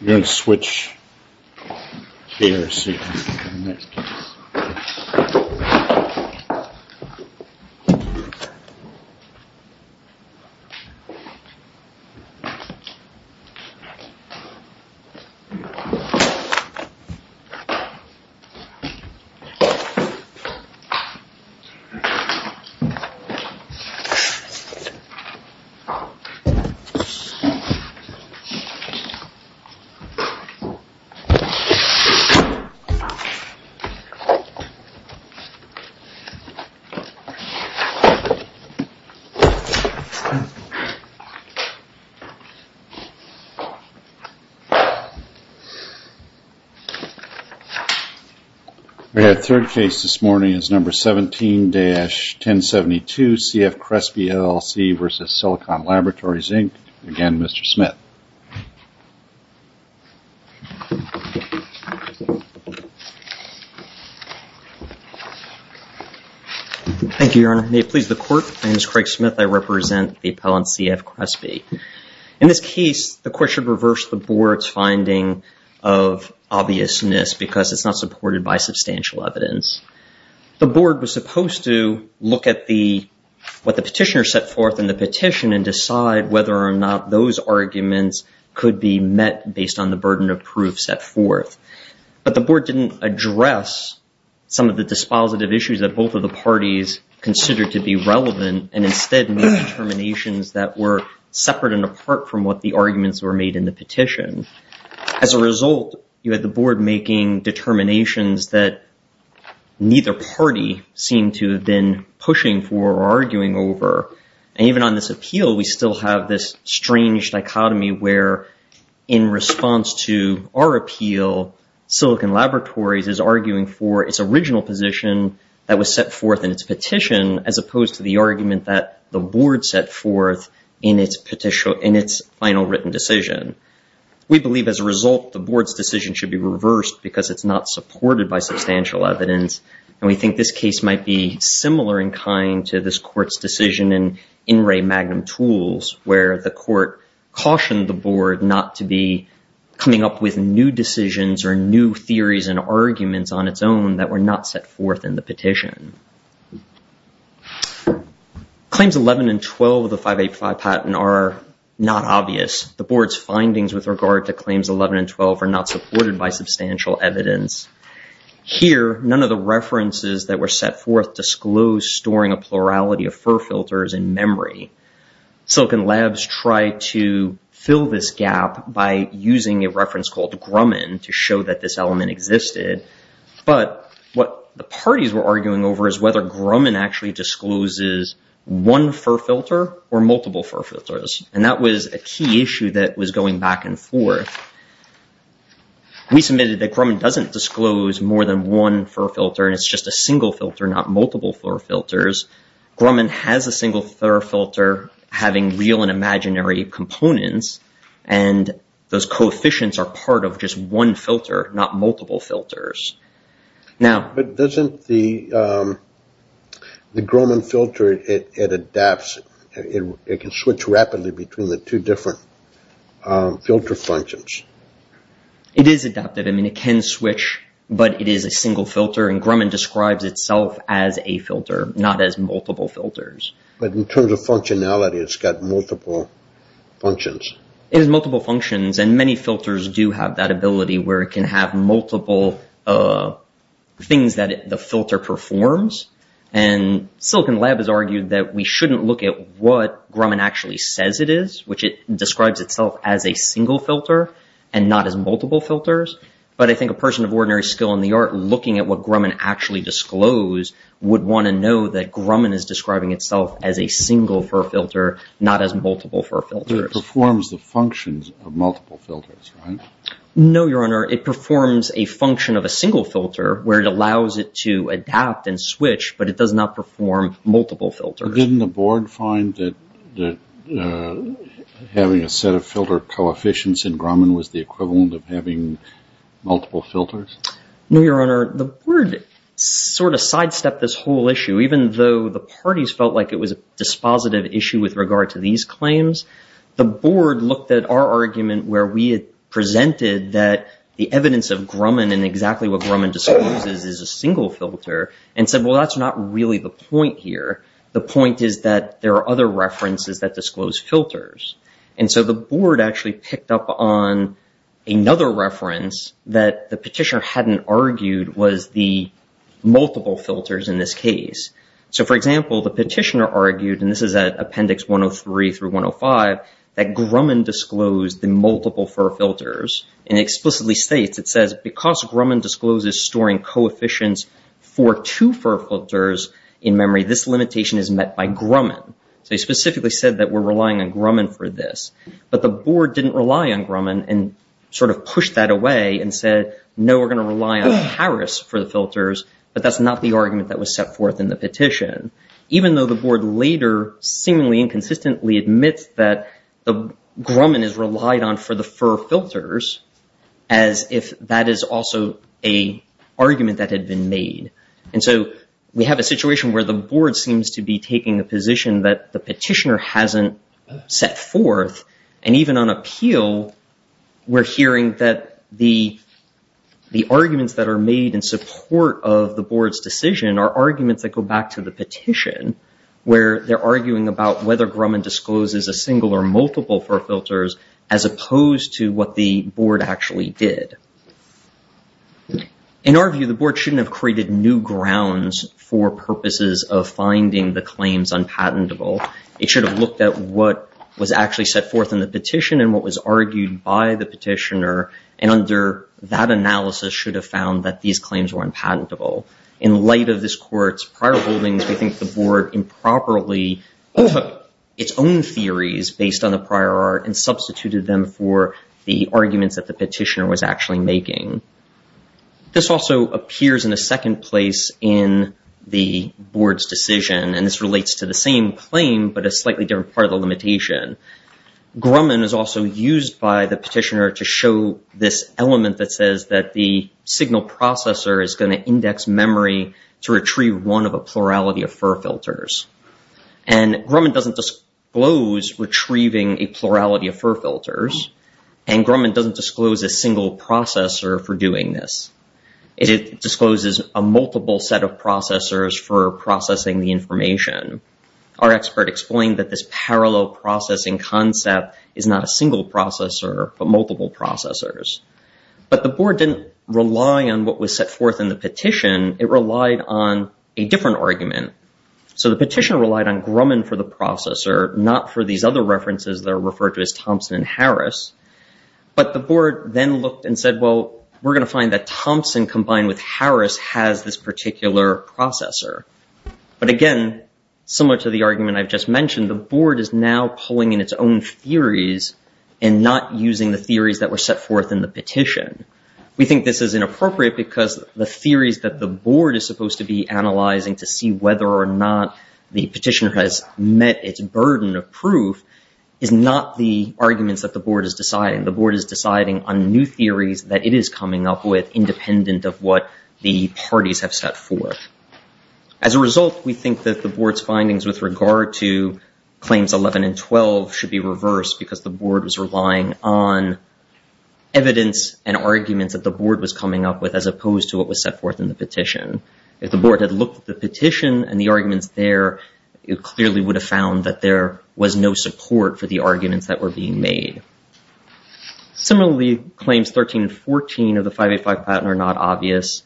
We're going to switch gears here in a minute. We have a third case this morning. It's number 17-1072 CF CRESPE LLC v. Silicon Laboratories Inc. Again, Mr. Smith. Thank you, Your Honor. May it please the Court, my name is Craig Smith. I represent the appellant CF CRESPE. In this case, the Court should reverse the Board's finding of obviousness because it's not supported by substantial evidence. The Board was supposed to look at what the petitioner set forth in the petition and decide whether or not those arguments could be met based on the burden of proof set forth. But the Board didn't address some of the dispositive issues that both of the parties considered to be relevant and instead made determinations that were separate and apart from what the arguments were made in the petition. As a result, you had the Board making determinations that neither party seemed to have been pushing for or arguing over. And even on this appeal, we still have this strange dichotomy where, in response to our appeal, Silicon Laboratories is arguing for its original position that was set forth in its petition as opposed to the argument that the Board set forth in its final written decision. We believe as a result the Board's decision should be reversed because it's not supported by substantial evidence. We think this case might be similar in kind to this Court's decision in In Re Magnum Tools where the Court cautioned the Board not to be coming up with new decisions or new theories and arguments on its own that were not set forth in the petition. Claims 11 and 12 of the 585 patent are not obvious. The Board's findings with regard to claims 11 and 12 are not supported by substantial evidence. Here, none of the references that were set forth disclose storing a plurality of FER filters in memory. Silicon Labs tried to fill this gap by using a reference called Grumman to show that this element existed. But what the parties were arguing over is whether Grumman actually discloses one FER filter. And that was a key issue that was going back and forth. We submitted that Grumman doesn't disclose more than one FER filter and it's just a single filter, not multiple FER filters. Grumman has a single FER filter having real and imaginary components and those coefficients are part of just one filter, not multiple filters. But doesn't the Grumman filter, it adapts, it can switch rapidly between the two different filter functions? It is adaptive. I mean, it can switch, but it is a single filter and Grumman describes itself as a filter, not as multiple filters. But in terms of functionality, it's got multiple functions. It has multiple functions and many filters do have that ability where it can have multiple things that the filter performs. And Silicon Lab has argued that we shouldn't look at what Grumman actually says it is, which it describes itself as a single filter and not as multiple filters. But I think a person of ordinary skill in the art looking at what Grumman actually disclosed would want to know that Grumman is describing itself as a single FER filter, not as multiple FER filters. But it performs the functions of multiple filters, right? No, Your Honor. It performs a function of a single filter where it allows it to adapt and switch, but it does not perform multiple filters. Didn't the board find that having a set of filter coefficients in Grumman was the equivalent of having multiple filters? No, Your Honor. The board sort of sidestepped this whole issue, even though the parties felt like it was a dispositive issue with regard to these claims. The board looked at our argument where we had presented that the evidence of Grumman and exactly what Grumman discloses is a single filter and said, well, that's not really the point here. The point is that there are other references that disclose filters. And so the board actually picked up on another reference that the petitioner hadn't argued was the multiple filters in this case. So for example, the petitioner argued, and this is at Appendix 103 through 105, that Grumman disclosed the multiple FER filters and explicitly states, it says, because Grumman discloses storing coefficients for two FER filters in memory, this limitation is met by Grumman. So he specifically said that we're relying on Grumman for this. But the board didn't rely on Grumman and sort of pushed that away and said, no, we're going to rely on Harris for the filters, but that's not the argument that was set forth in the petition, even though the board later seemingly inconsistently admits that Grumman is relied on for the FER filters as if that is also a argument that had been made. And so we have a situation where the board seems to be taking a position that the petitioner hasn't set forth. And even on appeal, we're hearing that the arguments that are made in support of the board's decision are arguments that go back to the petition, where they're arguing about whether Grumman discloses a single or multiple FER filters, as opposed to what the board actually did. In our view, the board shouldn't have created new grounds for purposes of finding the claims unpatentable. It should have looked at what was actually set forth in the petition and what was argued by the petitioner, and under that analysis should have found that these claims were unpatentable. In light of this court's prior holdings, we think the board improperly took its own theories based on the prior art and substituted them for the arguments that the petitioner was actually making. This also appears in a second place in the board's decision, and this relates to the same claim, but a slightly different part of the limitation. Grumman is also used by the petitioner to show this element that says that the signal processor is going to index memory to retrieve one of a plurality of FER filters. And Grumman doesn't disclose retrieving a plurality of FER filters, and Grumman doesn't disclose a single processor for doing this. It discloses a multiple set of processors for processing the information. Our expert explained that this parallel processing concept is not a single processor, but multiple processors. But the board didn't rely on what was set forth in the petition. It relied on a different argument. So the petitioner relied on Grumman for the processor, not for these other references that are referred to as Thompson and Harris. But the board then looked and said, well, we're going to find that Thompson combined with Harris has this particular processor. But again, similar to the argument I've just mentioned, the board is now pulling in its own theories and not using the theories that were set forth in the petition. We think this is inappropriate because the theories that the board is supposed to be analyzing to see whether or not the petitioner has met its burden of proof is not the arguments that the board is deciding. The board is deciding on new theories that it is coming up with independent of what the parties have set forth. As a result, we think that the board's findings with regard to claims 11 and 12 should be reversed because the board was relying on evidence and arguments that the board was coming up with as opposed to what was set forth in the petition. If the board had looked at the petition and the arguments there, it clearly would have found that there was no support for the arguments that were being made. Similarly, claims 13 and 14 of the 585 patent are not obvious.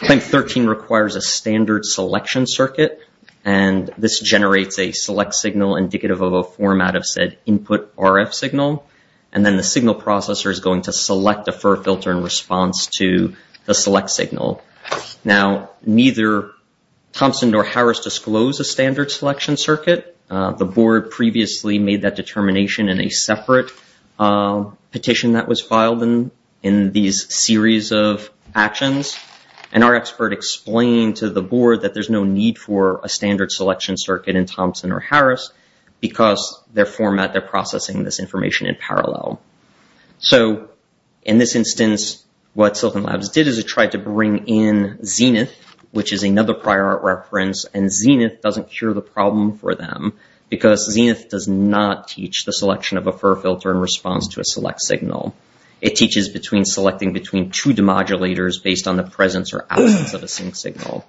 Claim 13 requires a standard selection circuit, and this generates a select signal indicative of a format of said input RF signal, and then the signal processor is going to select a FER filter in response to the select signal. Now, neither Thompson nor Harris disclose a standard selection circuit. The board previously made that determination in a separate petition that was filed in these series of actions, and our expert explained to the board that there's no need for a standard selection circuit in Thompson or Harris because their format, they're processing this information in parallel. So in this instance, what Silicon Labs did is it tried to bring in Zenith, which is another prior art reference, and Zenith doesn't cure the problem for them because Zenith does not teach the selection of a FER filter in response to a select signal. It teaches between selecting between two demodulators based on the presence or absence of a sync signal.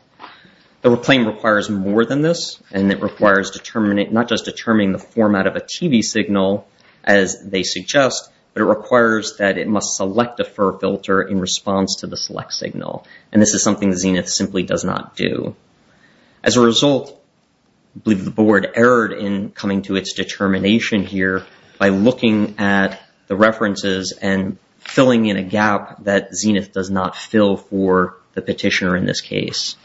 The claim requires more than this, and it requires not just determining the format of a TV signal as they suggest, but it requires that it must select a FER filter in response to the select signal, and this is something Zenith simply does not do. As a result, I believe the board erred in coming to its determination here by looking at the references and filling in a gap that Zenith does not fill for the petitioner in this case.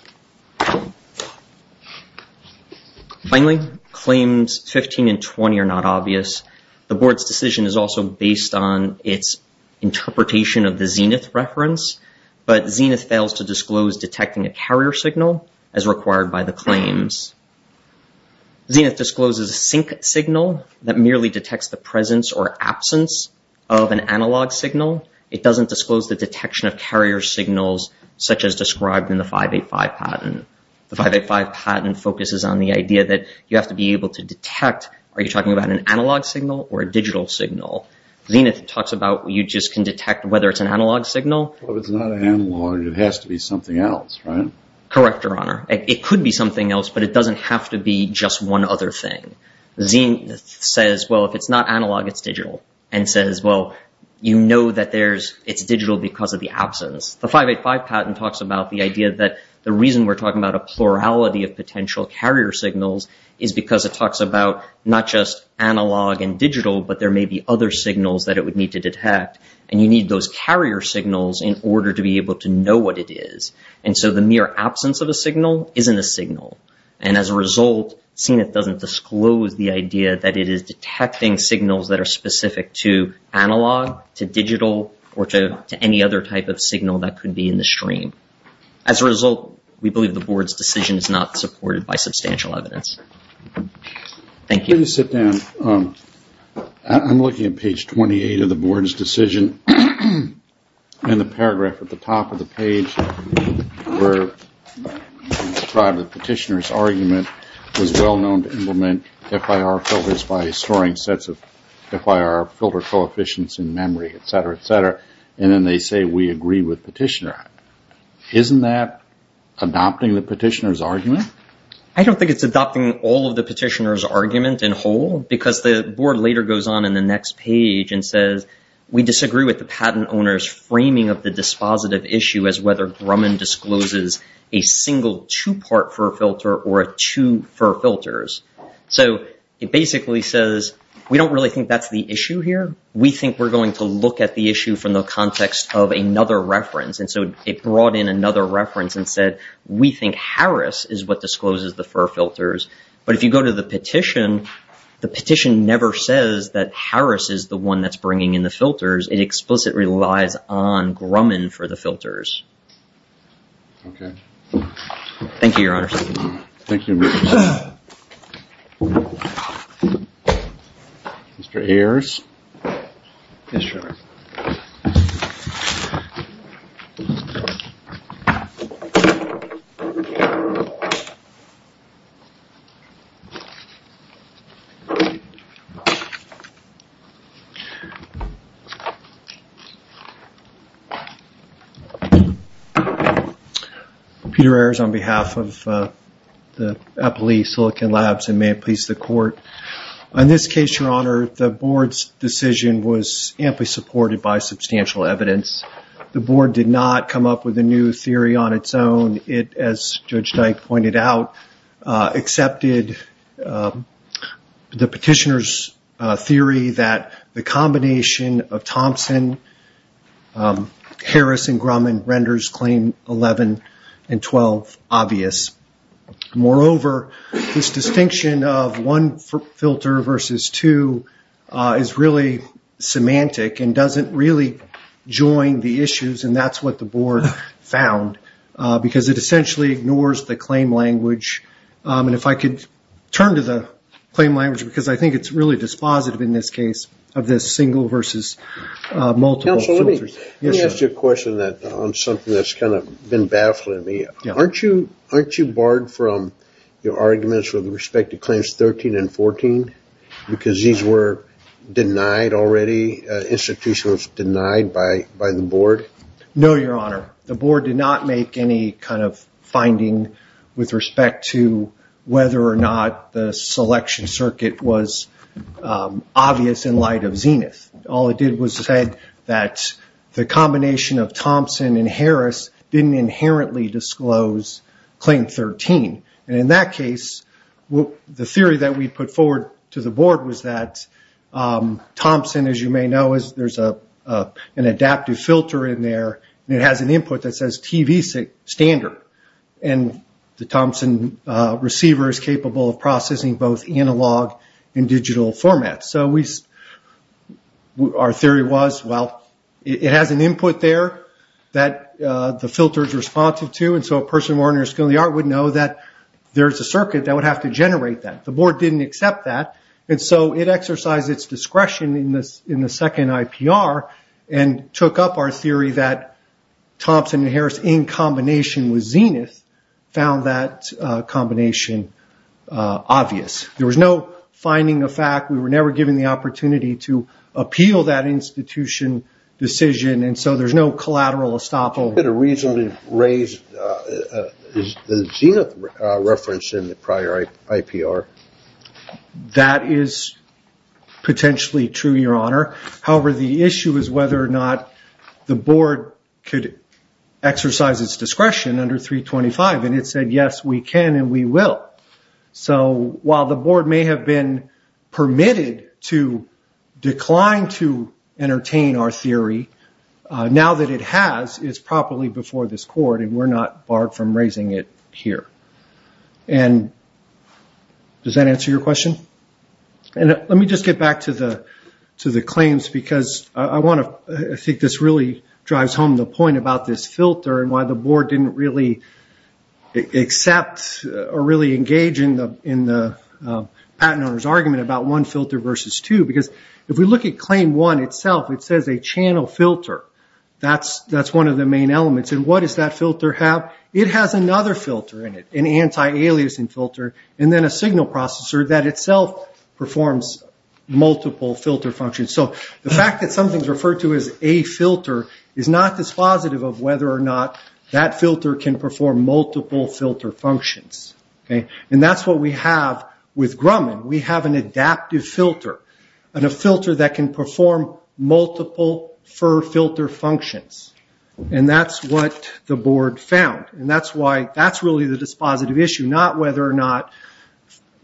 Finally, claims 15 and 20 are not obvious. The board's decision is also based on its interpretation of the Zenith reference, but Zenith fails to disclose detecting a carrier signal as required by the claims. Zenith discloses a sync signal that merely detects the presence or absence of an analog signal. It doesn't disclose the detection of carrier signals such as described in the 585 patent. The 585 patent focuses on the idea that you have to be able to detect, are you detecting an analog signal or a digital signal? Zenith talks about you just can detect whether it's an analog signal. Well, if it's not analog, it has to be something else, right? Correct, Your Honor. It could be something else, but it doesn't have to be just one other thing. Zenith says, well, if it's not analog, it's digital, and says, well, you know that there's, it's digital because of the absence. The 585 patent talks about the idea that the reason we're talking about a plurality of potential carrier signals is because it talks about not just analog and digital, but there may be other signals that it would need to detect, and you need those carrier signals in order to be able to know what it is. And so the mere absence of a signal isn't a signal. And as a result, Zenith doesn't disclose the idea that it is detecting signals that are specific to analog, to digital, or to any other type of signal that could be in the stream. As a result, we believe the board's decision is not supported by substantial evidence. Thank you. Let me sit down. I'm looking at page 28 of the board's decision, and the paragraph at the top of the page where the petitioner's argument was well known to implement FIR filters by storing sets of FIR filter coefficients in memory, et cetera, et cetera. And then they say, we agree with petitioner. Isn't that adopting the petitioner's argument? I don't think it's adopting all of the petitioner's argument in whole because the board later goes on in the next page and says, we disagree with the patent owner's framing of the dispositive issue as whether Grumman discloses a single two-part FIR filter or two FIR filters. So it basically says, we don't really think that's the issue here. We think we're going to look at the issue from the context of another reference. And so it brought in another reference and said, we think Harris is what discloses the FIR filters. But if you go to the petition, the petition never says that Harris is the one that's bringing in the filters. It explicitly relies on Grumman for the filters. Thank you, Your Honor. Thank you. Mr. Ayers. Yes, Your Honor. Peter Ayers on behalf of the Eppley Silicon Labs and may it please the court. On this decision was amply supported by substantial evidence. The board did not come up with a new theory on its own. It, as Judge Dyke pointed out, accepted the petitioner's theory that the combination of Thompson, Harris, and Grumman renders claim 11 and 12 obvious. Moreover, this distinction of one filter versus two is really semantic and doesn't really join the issues and that's what the board found because it essentially ignores the claim language. If I could turn to the claim language because I think it's really dispositive in this case of this single versus multiple filters. Counsel, let me ask you a question on something that's been baffling me. Aren't you barred from your arguments with respect to claims 13 and 14 because these were denied already? Institution was denied by the board? No, Your Honor. The board did not make any kind of finding with respect to whether or not the selection circuit was obvious in light of Zenith. All it did was say that the combination of Thompson and Harris didn't inherently disclose claim 13. In that case, the theory that we put forward to the board was that Thompson, as you may know, there's an adaptive filter in there and it has an input that says TV standard. The Thompson receiver is capable of processing both analog and digital formats. Our theory was, well, it has an input there that the filter is responsive to and so a person of ordinary skill in the art would know that there's a circuit that would have to generate that. The board didn't accept that, and so it exercised its discretion in the second IPR and took up our theory that Thompson and Harris in combination with Zenith found that combination obvious. There was no finding of fact. We were never given the opportunity to appeal that institution decision and so there's no collateral estoppel. Could you reasonably raise the Zenith reference in the prior IPR? That is potentially true, Your Honor. However, the issue is whether or not the board could exercise its discretion under 325, and it said, yes, we can and we will. While the board may have been permitted to decline to entertain our theory, now that it has, it's properly before this court and we're not barred from raising it here. Does that answer your question? Let me just get back to the claims because I think this really drives home the point about this filter and why the board didn't really accept or really engage in the discussion about one filter versus two. If we look at claim one itself, it says a channel filter. That's one of the main elements. What does that filter have? It has another filter in it, an anti-aliasing filter and then a signal processor that itself performs multiple filter functions. The fact that something is referred to as a filter is not dispositive of whether or not that filter can perform multiple filter functions. That's what we have with Grumman. We have an adaptive filter and a filter that can perform multiple FIR filter functions. That's what the board found. That's really the dispositive issue, not whether or not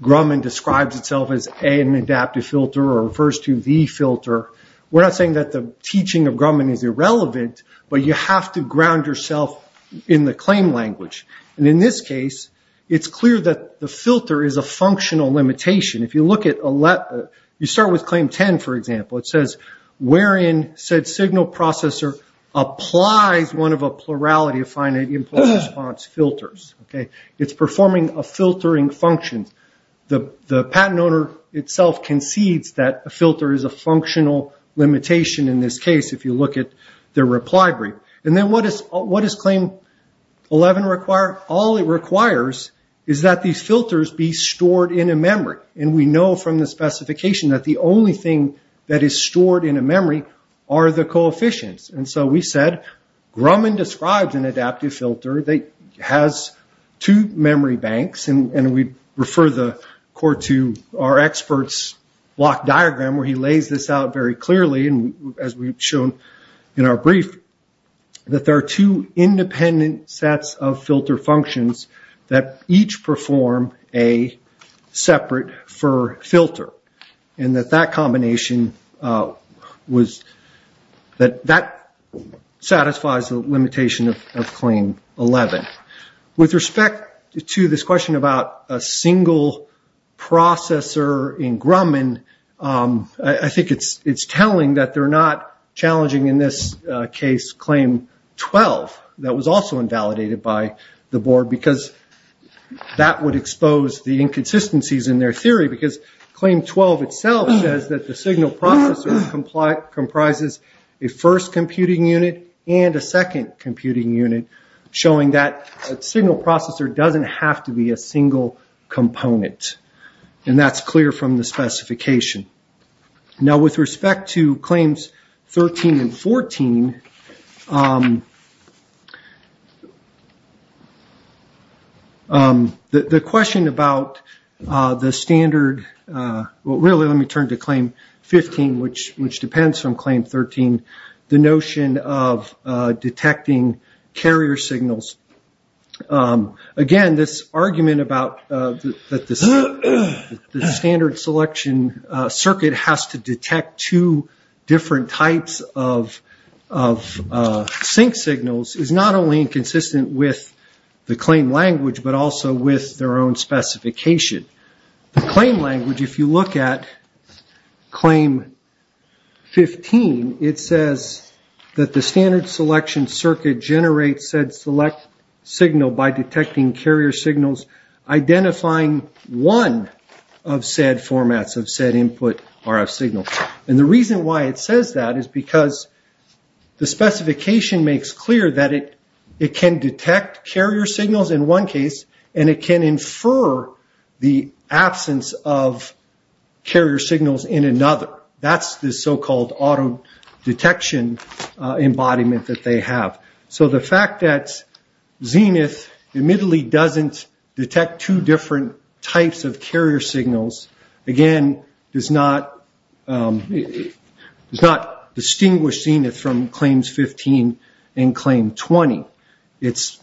Grumman describes itself as an adaptive filter or refers to the filter. We're not saying that the teaching of Grumman is irrelevant, but you have to ground yourself in the claim language. In this case, it's clear that the filter is a functional limitation. You start with claim 10, for example. It says wherein said signal processor applies one of a plurality of finite impulse response filters. It's performing a filtering function. The patent owner itself concedes that a filter is a functional limitation in this case if you look at their reply brief. What does claim 11 require? All it requires is that these filters be stored in a memory. We know from the specification that the only thing that is stored in a memory are the coefficients. We said Grumman describes an adaptive filter that has two memory banks. We refer the court to our expert's block diagram where he lays this out very clearly, as we've shown in our brief, that there are two independent sets of filter functions that each perform a separate FIR filter. That satisfies the limitation of claim 11. With respect to this question about a single processor in Grumman, I think it's telling that they're not challenging, in this case, claim 12. That was also invalidated by the board because that would expose the inconsistencies in their theory. Claim 12 itself says that a signal processor comprises a first computing unit and a second computing unit, showing that a signal processor doesn't have to be a single component. That's clear from the specification. With respect to claims 13 and 14, the question about the standard... Let me turn to claim 15, which depends on claim 13, the notion of detecting carrier signals. Again, this argument about the standard selection circuit has to detect two different types of sync signals is not only inconsistent with the claim language, but also with their own specification. The claim language, if you look at claim 15, it says that the standard selection circuit generates said select signal by detecting carrier signals, identifying one of said formats of said input RF signal. The reason why it says that is because the specification makes clear that it can detect carrier signals in one case and it can infer the absence of carrier signals in another. That's the so-called auto-detection embodiment that they have. The fact that Zenith admittedly doesn't detect two different types of carrier signals, again, does not distinguish Zenith from claims 15 and claim 20. It's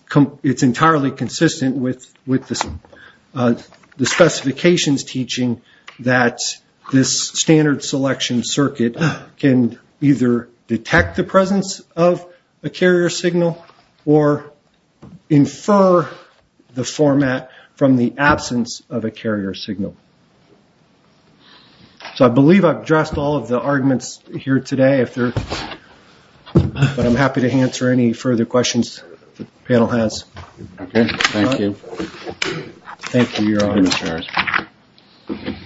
entirely consistent with the specifications teaching that this standard selection circuit can either detect the presence of a carrier signal or infer the format from the absence of a carrier signal. I believe I've addressed all of the arguments here today, but I'm happy to answer any further questions the panel has. Okay, thank you. Thank you, Your Honor. Thank you, Mr. Harris.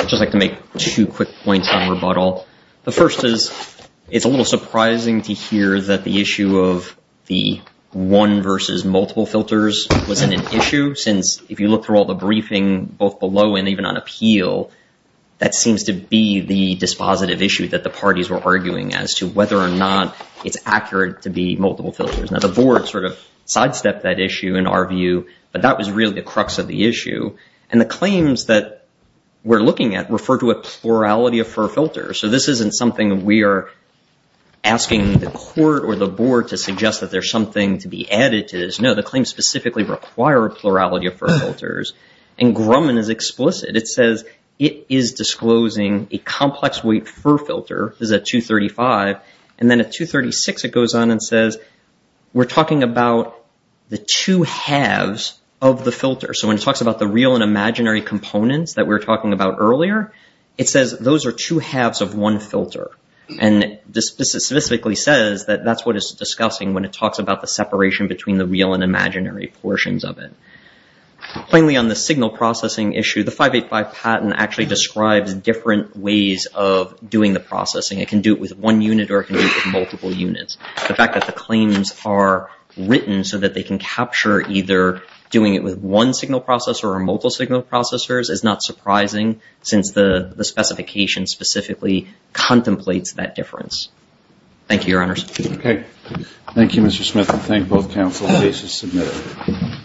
I'd just like to make two quick points on rebuttal. The first is it's a little surprising to hear that the issue of the one versus multiple filters wasn't an issue, since if you look through all the briefing, both below and even on appeal, that seems to be the dispositive issue that the parties were arguing as to whether or not it's accurate to be multiple filters. Now, the board sort of sidestepped that issue in our view, but that was really the crux of the issue. And the claims that we're looking at refer to a plurality of filters. I'm not asking the court or the board to suggest that there's something to be added to this. No, the claims specifically require a plurality of filters. And Grumman is explicit. It says it is disclosing a complex weight for filter. This is at 235. And then at 236, it goes on and says, we're talking about the two halves of the filter. So when it talks about the real and imaginary components that we were talking about earlier, it says those are two halves of one filter. And this specifically says that that's what it's discussing when it talks about the separation between the real and imaginary portions of it. Finally, on the signal processing issue, the 585 patent actually describes different ways of doing the processing. It can do it with one unit or it can do it with multiple units. The fact that the claims are written so that they can capture either doing it with one signal processor or multiple signal processors is not surprising since the specification specifically contemplates that difference. Thank you, Your Honors. Okay. Thank you, Mr. Smith. I thank both counsel. Case is submitted.